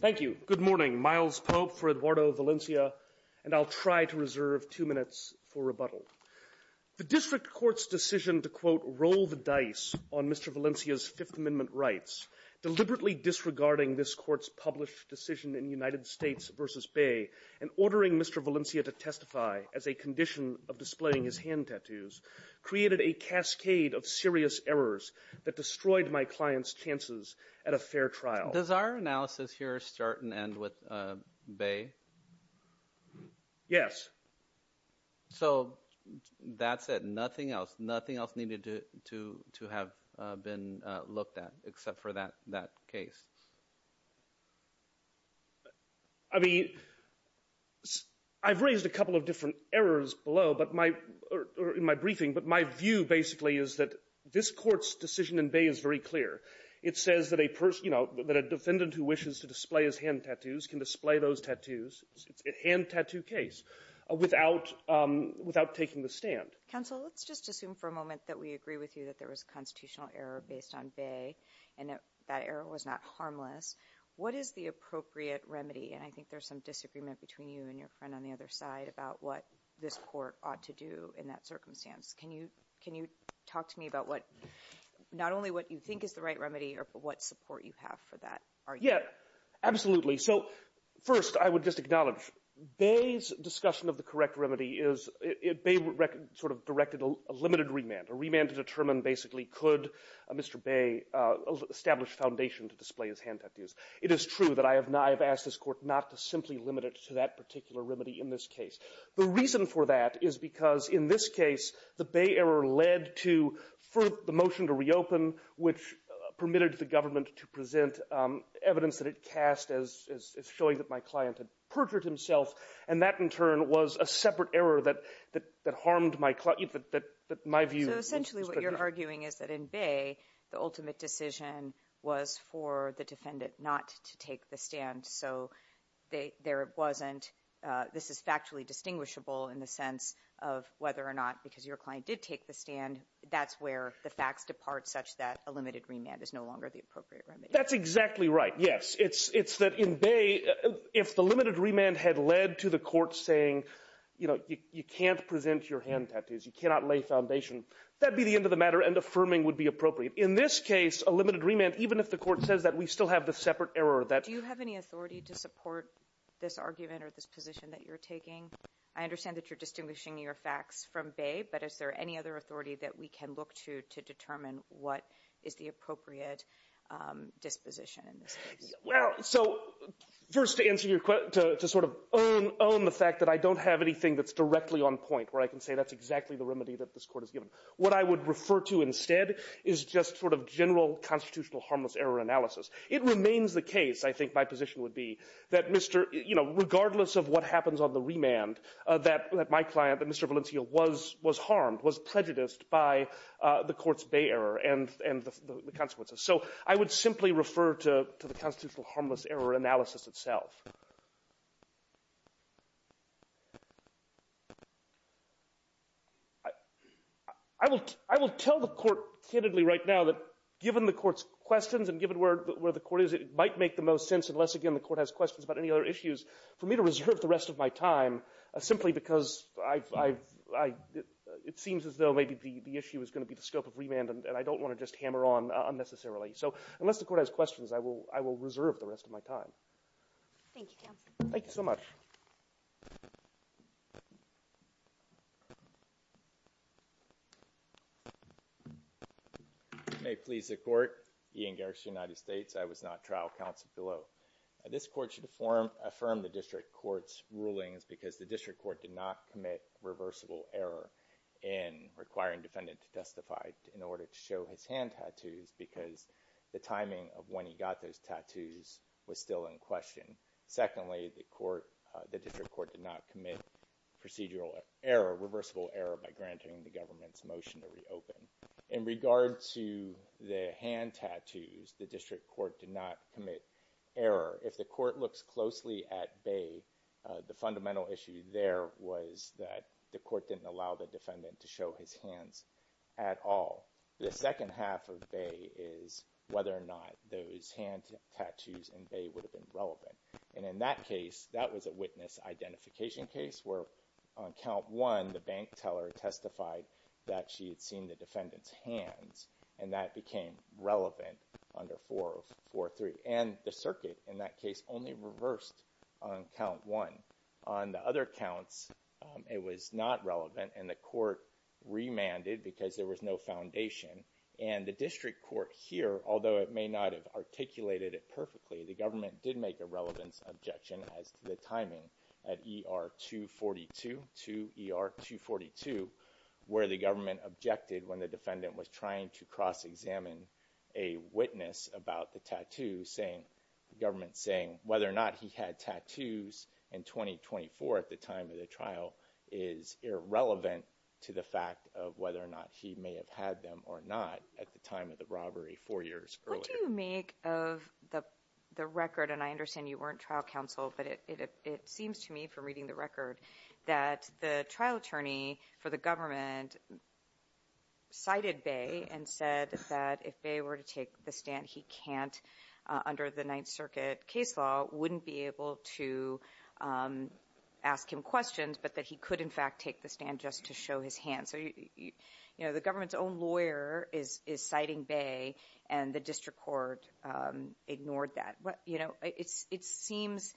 Thank you. Good morning. Miles Pope for Eduardo Valencia, and I'll try to reserve two minutes for rebuttal. The district court's decision to, quote, roll the dice on Mr. Valencia's Fifth Amendment rights, deliberately disregarding this court's published decision in United States v. Bay, and ordering Mr. Valencia to testify as a condition of displaying his hand tattoos, created a cascade of serious errors that destroyed my client's chances at a fair trial. Does our analysis here start and end with Bay? Yes. So that's it, nothing else? Nothing else needed to have been looked at except for that case? I mean, I've raised a couple of different errors below, but my or in my briefing, but my view basically is that this court's decision in Bay is very clear. It says that a person, you know, that a defendant who wishes to display his hand tattoos can display those tattoos. It's a hand tattoo case without taking the stand. Counsel, let's just assume for a moment that we agree with you that there was a constitutional error based on Bay and that error was not harmless. What is the appropriate remedy? And I think there's some disagreement between you and your friend on the other side about what this court ought to do in that circumstance. Can you can you talk to me about what not only what you think is the right remedy or what support you have for that? Yeah, absolutely. So first I would just acknowledge Bay's discussion of the correct remedy is it sort of directed a limited remand, a remand to determine basically could Mr. Bay establish foundation to display his hand tattoos. It is true that I have asked this court not to simply limit it to that particular remedy in this case. The reason for that is because in this case the Bay error led to the motion to reopen, which permitted the government to present evidence that it cast as showing that my client had perjured himself. And that, in turn, was a separate error that that that harmed my client, that my view. So essentially what you're arguing is that in Bay, the ultimate decision was for the defendant not to take the stand. So there wasn't this is factually distinguishable in the sense of whether or not because your client did take the stand. And that's where the facts depart such that a limited remand is no longer the appropriate remedy. That's exactly right. Yes, it's it's that in Bay, if the limited remand had led to the court saying, you know, you can't present your hand tattoos, you cannot lay foundation. That'd be the end of the matter. And affirming would be appropriate in this case, a limited remand. Even if the court says that we still have the separate error that you have any authority to support this argument or this position that you're taking. I understand that you're distinguishing your facts from Bay. But is there any other authority that we can look to to determine what is the appropriate disposition in this case? Well, so first to answer your question, to sort of own the fact that I don't have anything that's directly on point where I can say that's exactly the remedy that this Court has given. What I would refer to instead is just sort of general constitutional harmless error analysis. It remains the case, I think my position would be, that Mr. You know, regardless of what happens on the remand, that my client, that Mr. Valencia, was harmed, was prejudiced by the Court's Bay error and the consequences. So I would simply refer to the constitutional harmless error analysis itself. I will tell the Court candidly right now that given the Court's questions and given where we're at in terms of the where the Court is, it might make the most sense, unless again the Court has questions about any other issues, for me to reserve the rest of my time simply because I've it seems as though maybe the issue is going to be the scope of remand and I don't want to just hammer on unnecessarily. So unless the Court has questions, I will reserve the rest of my time. Thank you, counsel. Thank you so much. May it please the Court. Ian Garrix, United States. I was not trial counsel below. This Court should affirm the District Court's rulings because the District Court did not commit reversible error in requiring defendant to testify in order to show his hand tattoos because the timing of when he got those tattoos was still in question. Secondly, the District Court did not commit procedural error, reversible error by granting the government's motion to reopen. In regard to the hand tattoos, the District Court did not commit error. If the Court looks closely at Bay, the fundamental issue there was that the Court didn't allow the defendant to show his hands at all. The second half of Bay is whether or not those hand tattoos in Bay would have been relevant. And in that case, that was a witness identification case where on count one, the bank teller testified that she had seen the defendant's hands and that became relevant under 4043. And the circuit in that case only reversed on count one. On the other counts, it was not relevant and the Court remanded because there was no foundation. And the District Court here, although it may not have articulated it perfectly, the government did make a relevance objection as to the timing at ER 242 to ER 242, where the government objected when the defendant was trying to cross-examine a witness about the tattoo, the government saying whether or not he had tattoos in 2024 at the time of the trial is irrelevant to the fact of whether or not he may have had them or not at the time of the robbery four years earlier. What do you make of the record, and I understand you weren't trial counsel, but it seems to me from reading the record that the trial attorney for the government cited Bay and said that if Bay were to take the stand, he can't under the Ninth Circuit case law, wouldn't be able to ask him questions, but that he could in fact take the stand just to show his hands. So, you know, the government's own lawyer is citing Bay and the District Court ignored that. You know, it seems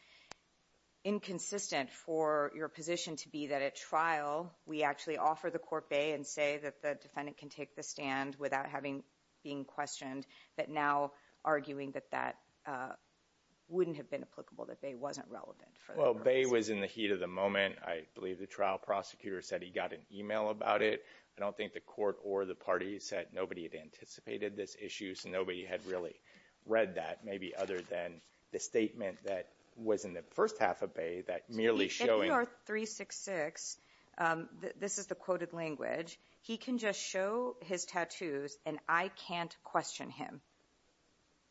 inconsistent for your position to be that at trial, we actually offer the court Bay and say that the defendant can take the stand without having, being questioned, but now arguing that that wouldn't have been applicable, that Bay wasn't relevant. Well, Bay was in the heat of the moment. I believe the trial prosecutor said he got an email about it. I don't think the court or the party said nobody had anticipated this issue, so nobody had really read that, maybe other than the statement that was in the first half of Bay that merely showing... In CR 366, this is the quoted language, he can just show his tattoos and I can't question him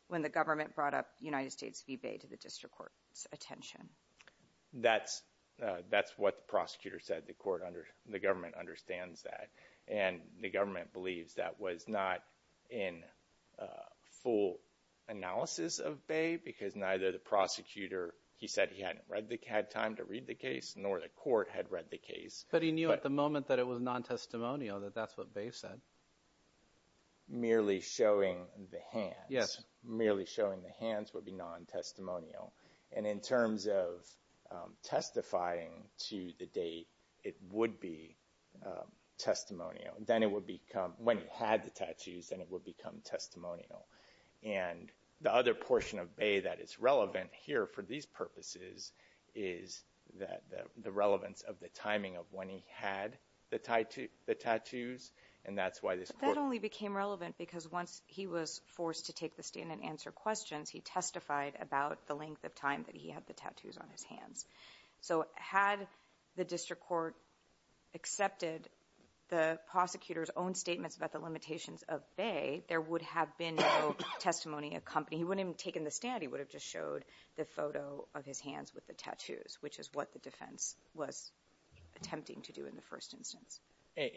when the government brought up United States v. Bay to the District Court's attention. That's what the prosecutor said. The government understands that and the government believes that was not in full analysis of Bay because neither the prosecutor, he said he hadn't had time to read the case, nor the court had read the case. But he knew at the moment that it was non-testimonial, that that's what Bay said. Merely showing the hands. Yes. Merely showing the hands would be non-testimonial. And in terms of testifying to the date, it would be testimonial. Then it would become, when he had the tattoos, then it would become non-testimonial. And the other portion of Bay that is relevant here for these purposes is the relevance of the timing of when he had the tattoos, and that's why this court... But that only became relevant because once he was forced to take the stand and answer questions, he testified about the length of time that he had the tattoos on his hands. So had the District Court accepted the prosecutor's own statements about the limitations of Bay, there would have been no testimony of company. He wouldn't have taken the stand. He would have just showed the photo of his hands with the tattoos, which is what the defense was attempting to do in the first instance.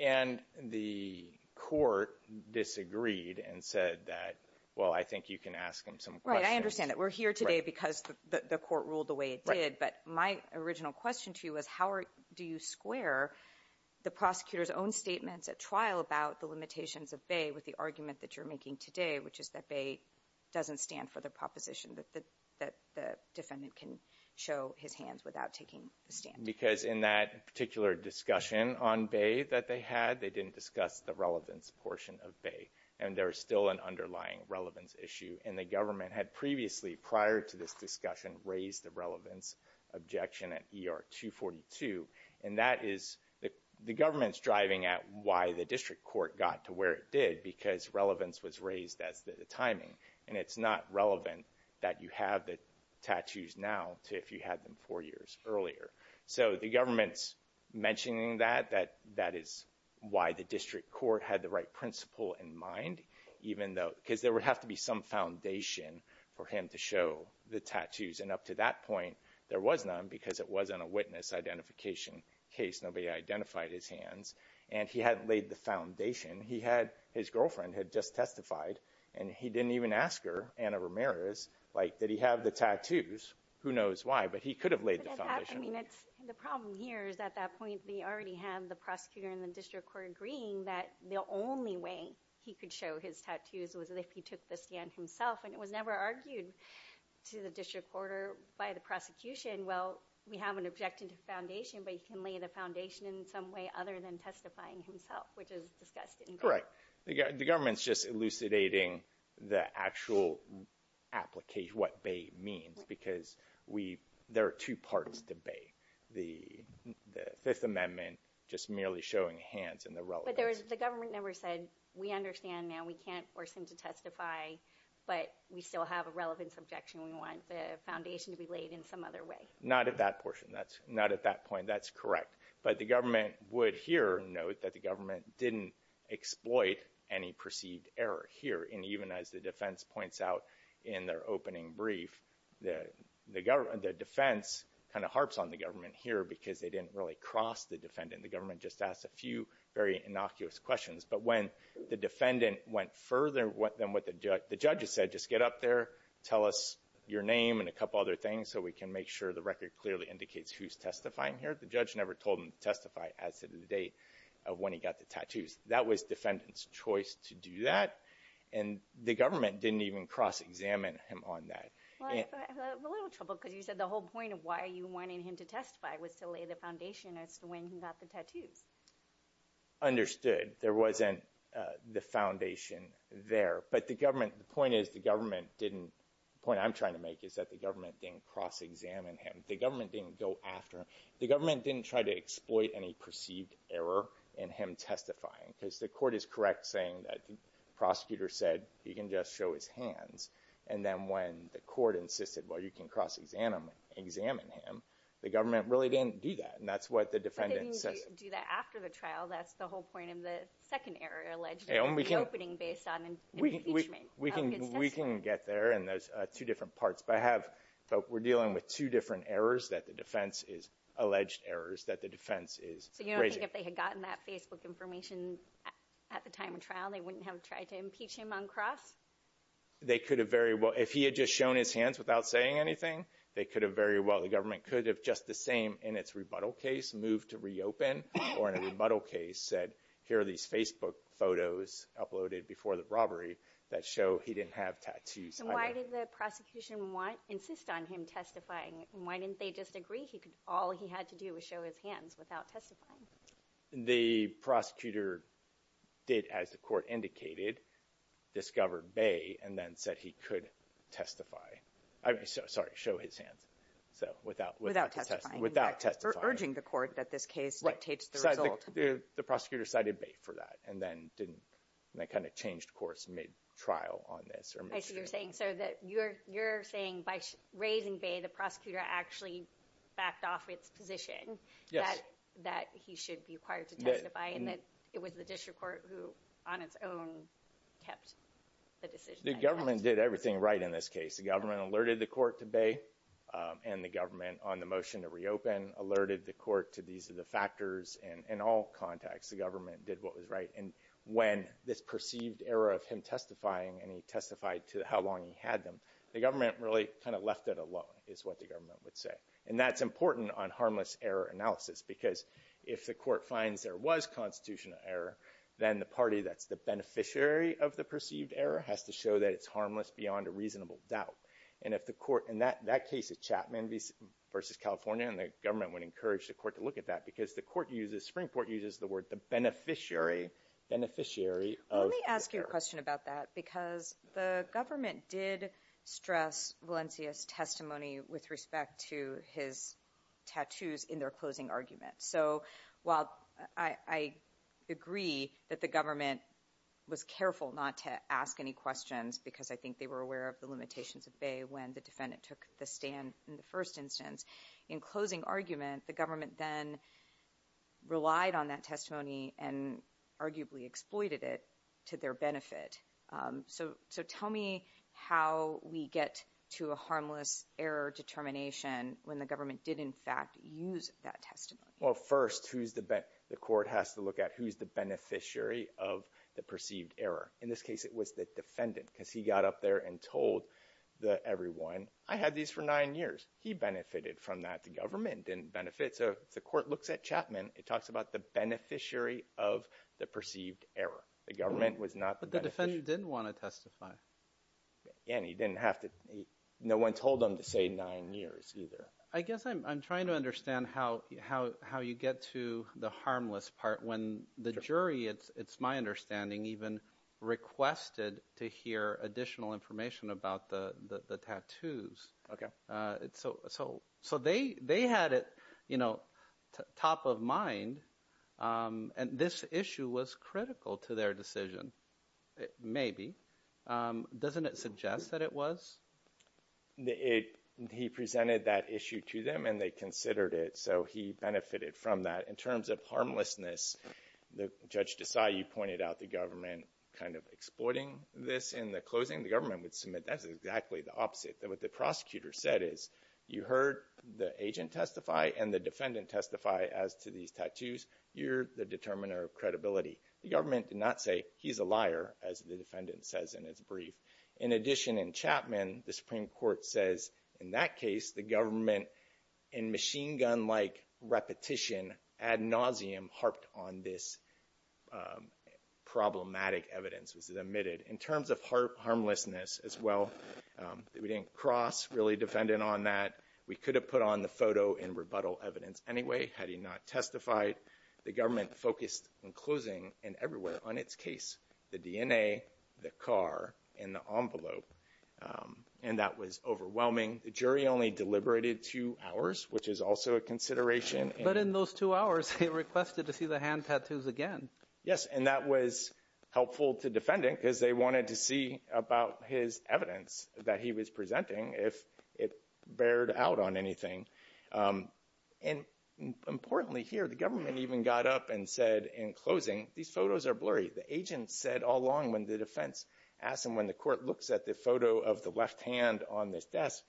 And the court disagreed and said that, well, I think you can ask him some questions. Right. I understand that. We're here today because the court ruled the way it did. Right. But my original question to you was, how do you square the prosecutor's own statements at trial about the limitations of Bay with the argument that you're making today, which is that Bay doesn't stand for the proposition that the defendant can show his hands without taking the stand? Because in that particular discussion on Bay that they had, they didn't discuss the relevance portion of Bay, and there is still an underlying relevance issue. And the government had previously, prior to this discussion, raised the relevance objection at ER 242, and that is, the government's driving at why the district court got to where it did, because relevance was raised as the timing, and it's not relevant that you have the tattoos now to if you had them four years earlier. So the government's mentioning that, that that is why the district court had the right principle in mind, even though, because there would have to be some foundation for him to it wasn't a witness identification case. Nobody identified his hands. And he hadn't laid the foundation. He had, his girlfriend had just testified, and he didn't even ask her, Anna Ramirez, like, did he have the tattoos? Who knows why, but he could have laid the foundation. I mean, it's, the problem here is, at that point, they already had the prosecutor and the district court agreeing that the only way he could show his tattoos was if he took the stand himself. And it was never argued to the district court or by the prosecution. Well, we haven't objected to foundation, but he can lay the foundation in some way other than testifying himself, which is discussed in court. The government's just elucidating the actual application, what bae means, because we, there are two parts to bae, the Fifth Amendment just merely showing hands and the relevance. But there was, the government never said, we understand now. We can't force him to testify, but we still have a relevance objection. We want the foundation to be laid in some other way. Not at that portion. Not at that point. That's correct. But the government would here note that the government didn't exploit any perceived error here. And even as the defense points out in their opening brief, the defense kind of harps on the government here because they didn't really cross the defendant. The government just asked a few very innocuous questions. But when the defendant went further than what the judge has said, just get up there, tell us your name and a couple other things so we can make sure the record clearly indicates who's testifying here. The judge never told him to testify as to the date of when he got the tattoos. That was defendant's choice to do that. And the government didn't even cross-examine him on that. Well, I have a little trouble because you said the whole point of why you wanted him to testify was to lay the foundation as to when he got the tattoos. Understood. There wasn't the foundation there. But the government, the point is the government didn't, the point I'm trying to make is that the government didn't cross-examine him. The government didn't go after him. The government didn't try to exploit any perceived error in him testifying. Because the court is correct saying that the prosecutor said you can just show his hands. And then when the court insisted, well, you can cross-examine him, the government really didn't do that. And that's what the defendant says. So they didn't do that after the trial. That's the whole point of the second error, alleged reopening based on impeachment. We can get there, and there's two different parts. But we're dealing with two different errors that the defense is, alleged errors that the defense is raising. So you don't think if they had gotten that Facebook information at the time of trial, they wouldn't have tried to impeach him on cross? They could have very well, if he had just shown his hands without saying anything, they could have very well, the government could have just the same in its rebuttal case, moved to reopen, or in a rebuttal case said, here are these Facebook photos uploaded before the robbery that show he didn't have tattoos either. So why did the prosecution want, insist on him testifying? Why didn't they just agree he could, all he had to do was show his hands without testifying? The prosecutor did, as the court indicated, discover bae, and then said he could testify. I'm sorry, show his hands. So without testifying. Without testifying. Without urging the court that this case dictates the result. The prosecutor cited bae for that, and then didn't, and then kind of changed course mid-trial on this. I see what you're saying, so you're saying by raising bae, the prosecutor actually backed off its position that he should be required to testify, and that it was the district court who, on its own, kept the decision. The government did everything right in this case. The government alerted the court to bae, and the government, on the motion to reopen, alerted the court to these are the factors, and in all contexts, the government did what was right. And when this perceived error of him testifying, and he testified to how long he had them, the government really kind of left it alone, is what the government would say. And that's important on harmless error analysis, because if the court finds there was constitutional error, then the party that's the beneficiary of the perceived error has to show that it's true. And if the court, in that case of Chapman v. California, and the government would encourage the court to look at that, because the court uses, Springport uses the word the beneficiary of the error. Let me ask you a question about that, because the government did stress Valencia's testimony with respect to his tattoos in their closing argument. So while I agree that the government was careful not to ask any questions, because I think they were aware of the limitations of Bay when the defendant took the stand in the first instance, in closing argument, the government then relied on that testimony and arguably exploited it to their benefit. So tell me how we get to a harmless error determination when the government did, in fact, use that testimony. Well, first, the court has to look at who's the beneficiary of the perceived error. In this case, it was the defendant, because he got up there and told everyone, I had these for nine years. He benefited from that. The government didn't benefit. So if the court looks at Chapman, it talks about the beneficiary of the perceived error. The government was not the beneficiary. But the defendant didn't want to testify. And he didn't have to. No one told him to say nine years either. I guess I'm trying to understand how you get to the harmless part when the jury, it's my understanding, even requested to hear additional information about the tattoos. Okay. So they had it, you know, top of mind. And this issue was critical to their decision, maybe. Doesn't it suggest that it was? He presented that issue to them and they considered it. So he benefited from that. In terms of harmlessness, Judge Desai, you pointed out the government kind of exploiting this. In the closing, the government would submit, that's exactly the opposite. What the prosecutor said is, you heard the agent testify and the defendant testify as to these tattoos. You're the determiner of credibility. The government did not say, he's a liar, as the defendant says in his brief. In addition, in Chapman, the Supreme Court says, in that case, the government, in machine gun-like repetition, ad nauseum, harped on this problematic evidence. This is admitted. In terms of harmlessness as well, we didn't cross really defendant on that. We could have put on the photo in rebuttal evidence anyway had he not testified. The government focused in closing and everywhere on its case, the DNA, the car, and the envelope. And that was overwhelming. The jury only deliberated two hours, which is also a consideration. But in those two hours, he requested to see the hand tattoos again. Yes, and that was helpful to defending because they wanted to see about his evidence that he was presenting, if it bared out on anything. And importantly here, the government even got up and said in closing, these photos are blurry. The agent said all along when the defense asked him when the court looks at the photo of the left hand on this desk,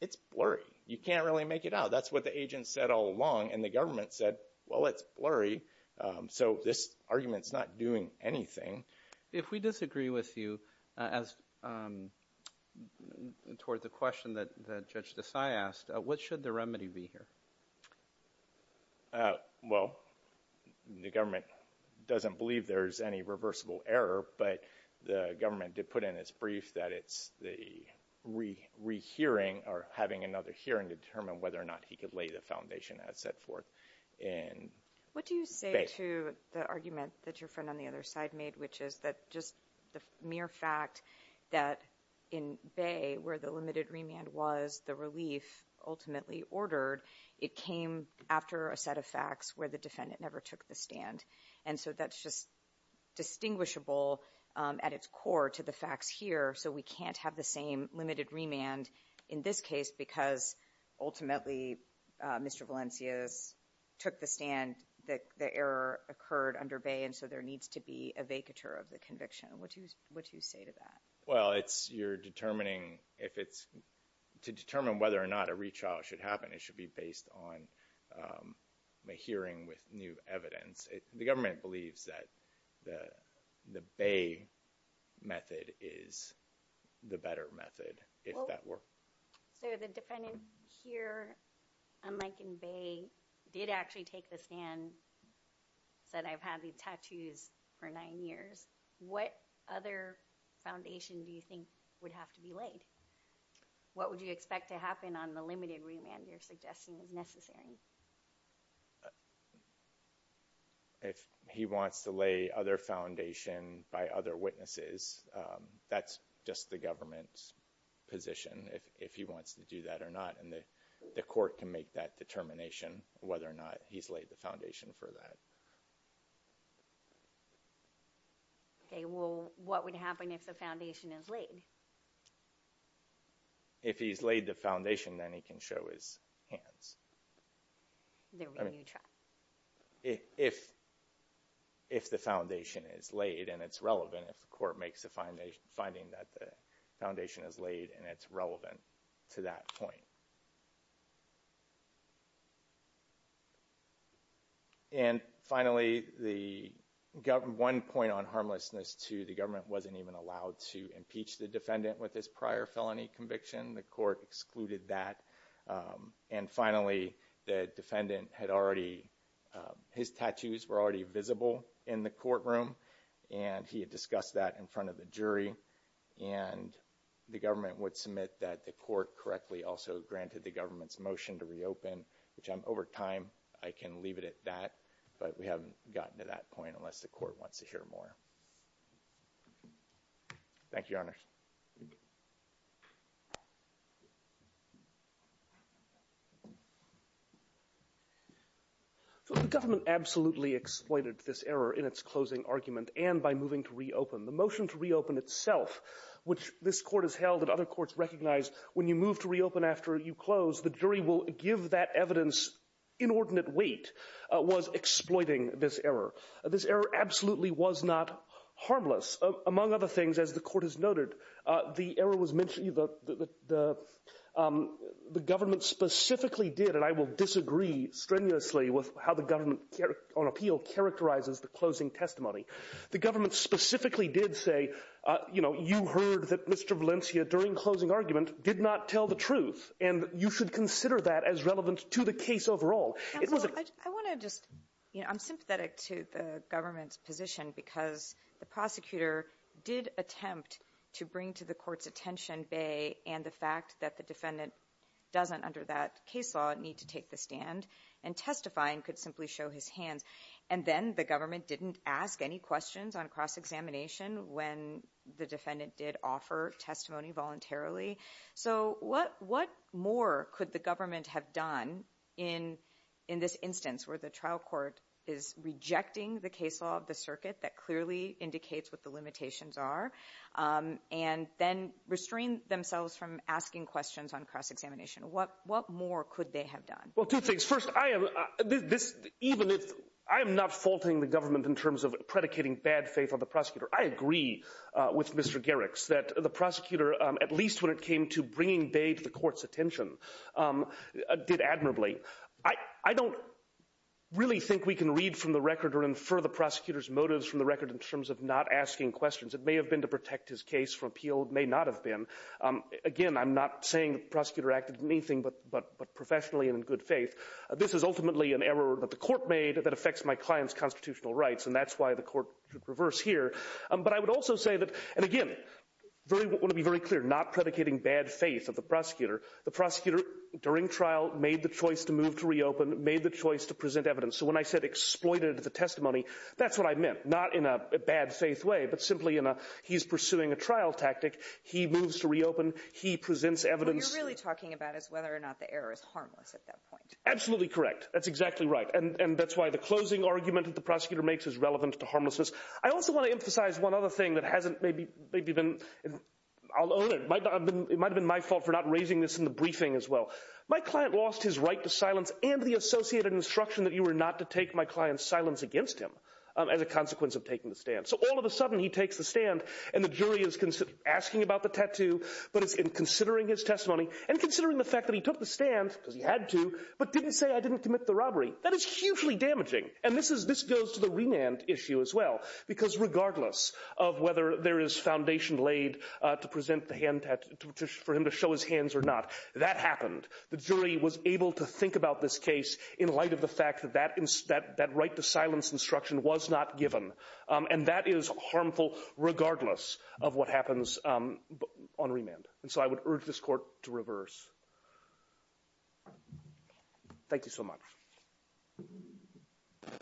it's blurry. You can't really make it out. That's what the agent said all along. And the government said, well, it's blurry, so this argument is not doing anything. If we disagree with you as toward the question that Judge Desai asked, what should the remedy be here? Well, the government doesn't believe there's any reversible error, but the government did put in its brief that it's the rehearing or having another hearing to determine whether or not he could lay the foundation as set forth in Bay. What do you say to the argument that your friend on the other side made, which is that just the mere fact that in Bay where the limited remand was, the relief ultimately ordered, it came after a set of facts where the defendant never took the stand. And so that's just distinguishable at its core to the facts here, so we can't have the same limited remand in this case because ultimately Mr. Valencia took the stand, the error occurred under Bay, and so there needs to be a vacatur of the conviction. What do you say to that? Well, you're determining if it's – to determine whether or not a retrial should happen, it should be based on a hearing with new evidence. The government believes that the Bay method is the better method if that were. So the defendant here, unlike in Bay, did actually take the stand, said I've had these tattoos for nine years. What other foundation do you think would have to be laid? What would you expect to happen on the limited remand you're suggesting is necessary? If he wants to lay other foundation by other witnesses, that's just the government's position, if he wants to do that or not, and the court can make that determination, whether or not he's laid the foundation for that. Okay, well, what would happen if the foundation is laid? If he's laid the foundation, then he can show his hands. There will be a new trial. If the foundation is laid and it's relevant, if the court makes the finding that the foundation is laid and it's relevant to that point. And finally, one point on harmlessness, too, the government wasn't even allowed to impeach the defendant with his prior felony conviction. The court excluded that. And finally, the defendant had already – his tattoos were already visible in the courtroom, and he had discussed that in front of the jury, and the government would submit that the court correctly also granted the government's motion to reopen, which, over time, I can leave it at that, but we haven't gotten to that point unless the court wants to hear more. Thank you, Your Honors. Thank you. The government absolutely exploited this error in its closing argument and by moving to reopen. The motion to reopen itself, which this court has held and other courts recognize, when you move to reopen after you close, the jury will give that evidence inordinate weight, was exploiting this error. This error absolutely was not harmless. Among other things, as the court has noted, the error was mentioned – the government specifically did, and I will disagree strenuously with how the government on appeal characterizes the closing testimony. The government specifically did say, you know, you heard that Mr. Valencia during closing argument did not tell the truth, and you should consider that as relevant to the case overall. I want to just – you know, I'm sympathetic to the government's position, because the prosecutor did attempt to bring to the court's attention the fact that the defendant doesn't, under that case law, need to take the stand, and testifying could simply show his hands. And then the government didn't ask any questions on cross-examination when the defendant did offer testimony voluntarily. So what more could the government have done in this instance, where the trial court is rejecting the case law of the circuit that clearly indicates what the limitations are, and then restrained themselves from asking questions on cross-examination? What more could they have done? Well, two things. First, I am – this – even if – I am not faulting the government in terms of predicating bad faith on the prosecutor. I agree with Mr. Garrix that the prosecutor, at least when it came to bringing bay to the court's attention, did admirably. I don't really think we can read from the record or infer the prosecutor's motives from the record in terms of not asking questions. It may have been to protect his case from appeal. It may not have been. Again, I'm not saying the prosecutor acted in anything but professionally and in good faith. This is ultimately an error that the court made that affects my client's constitutional rights, and that's why the court should reverse here. But I would also say that – and again, I want to be very clear, not predicating bad faith of the prosecutor. The prosecutor, during trial, made the choice to move to reopen, made the choice to present evidence. So when I said exploited the testimony, that's what I meant. Not in a bad faith way, but simply in a he's pursuing a trial tactic. He moves to reopen. He presents evidence. What you're really talking about is whether or not the error is harmless at that point. Absolutely correct. That's exactly right. And that's why the closing argument that the prosecutor makes is relevant to harmlessness. I also want to emphasize one other thing that hasn't maybe been – I'll own it. It might have been my fault for not raising this in the briefing as well. My client lost his right to silence and the associated instruction that you were not to take my client's silence against him as a consequence of taking the stand. So all of a sudden, he takes the stand, and the jury is asking about the tattoo, but it's in considering his testimony and considering the fact that he took the stand, because he had to, but didn't say I didn't commit the robbery. That is hugely damaging. And this goes to the remand issue as well, because regardless of whether there is foundation laid for him to show his hands or not, that happened. The jury was able to think about this case in light of the fact that that right to silence instruction was not given. And that is harmful regardless of what happens on remand. And so I would urge this court to reverse. Thank you so much.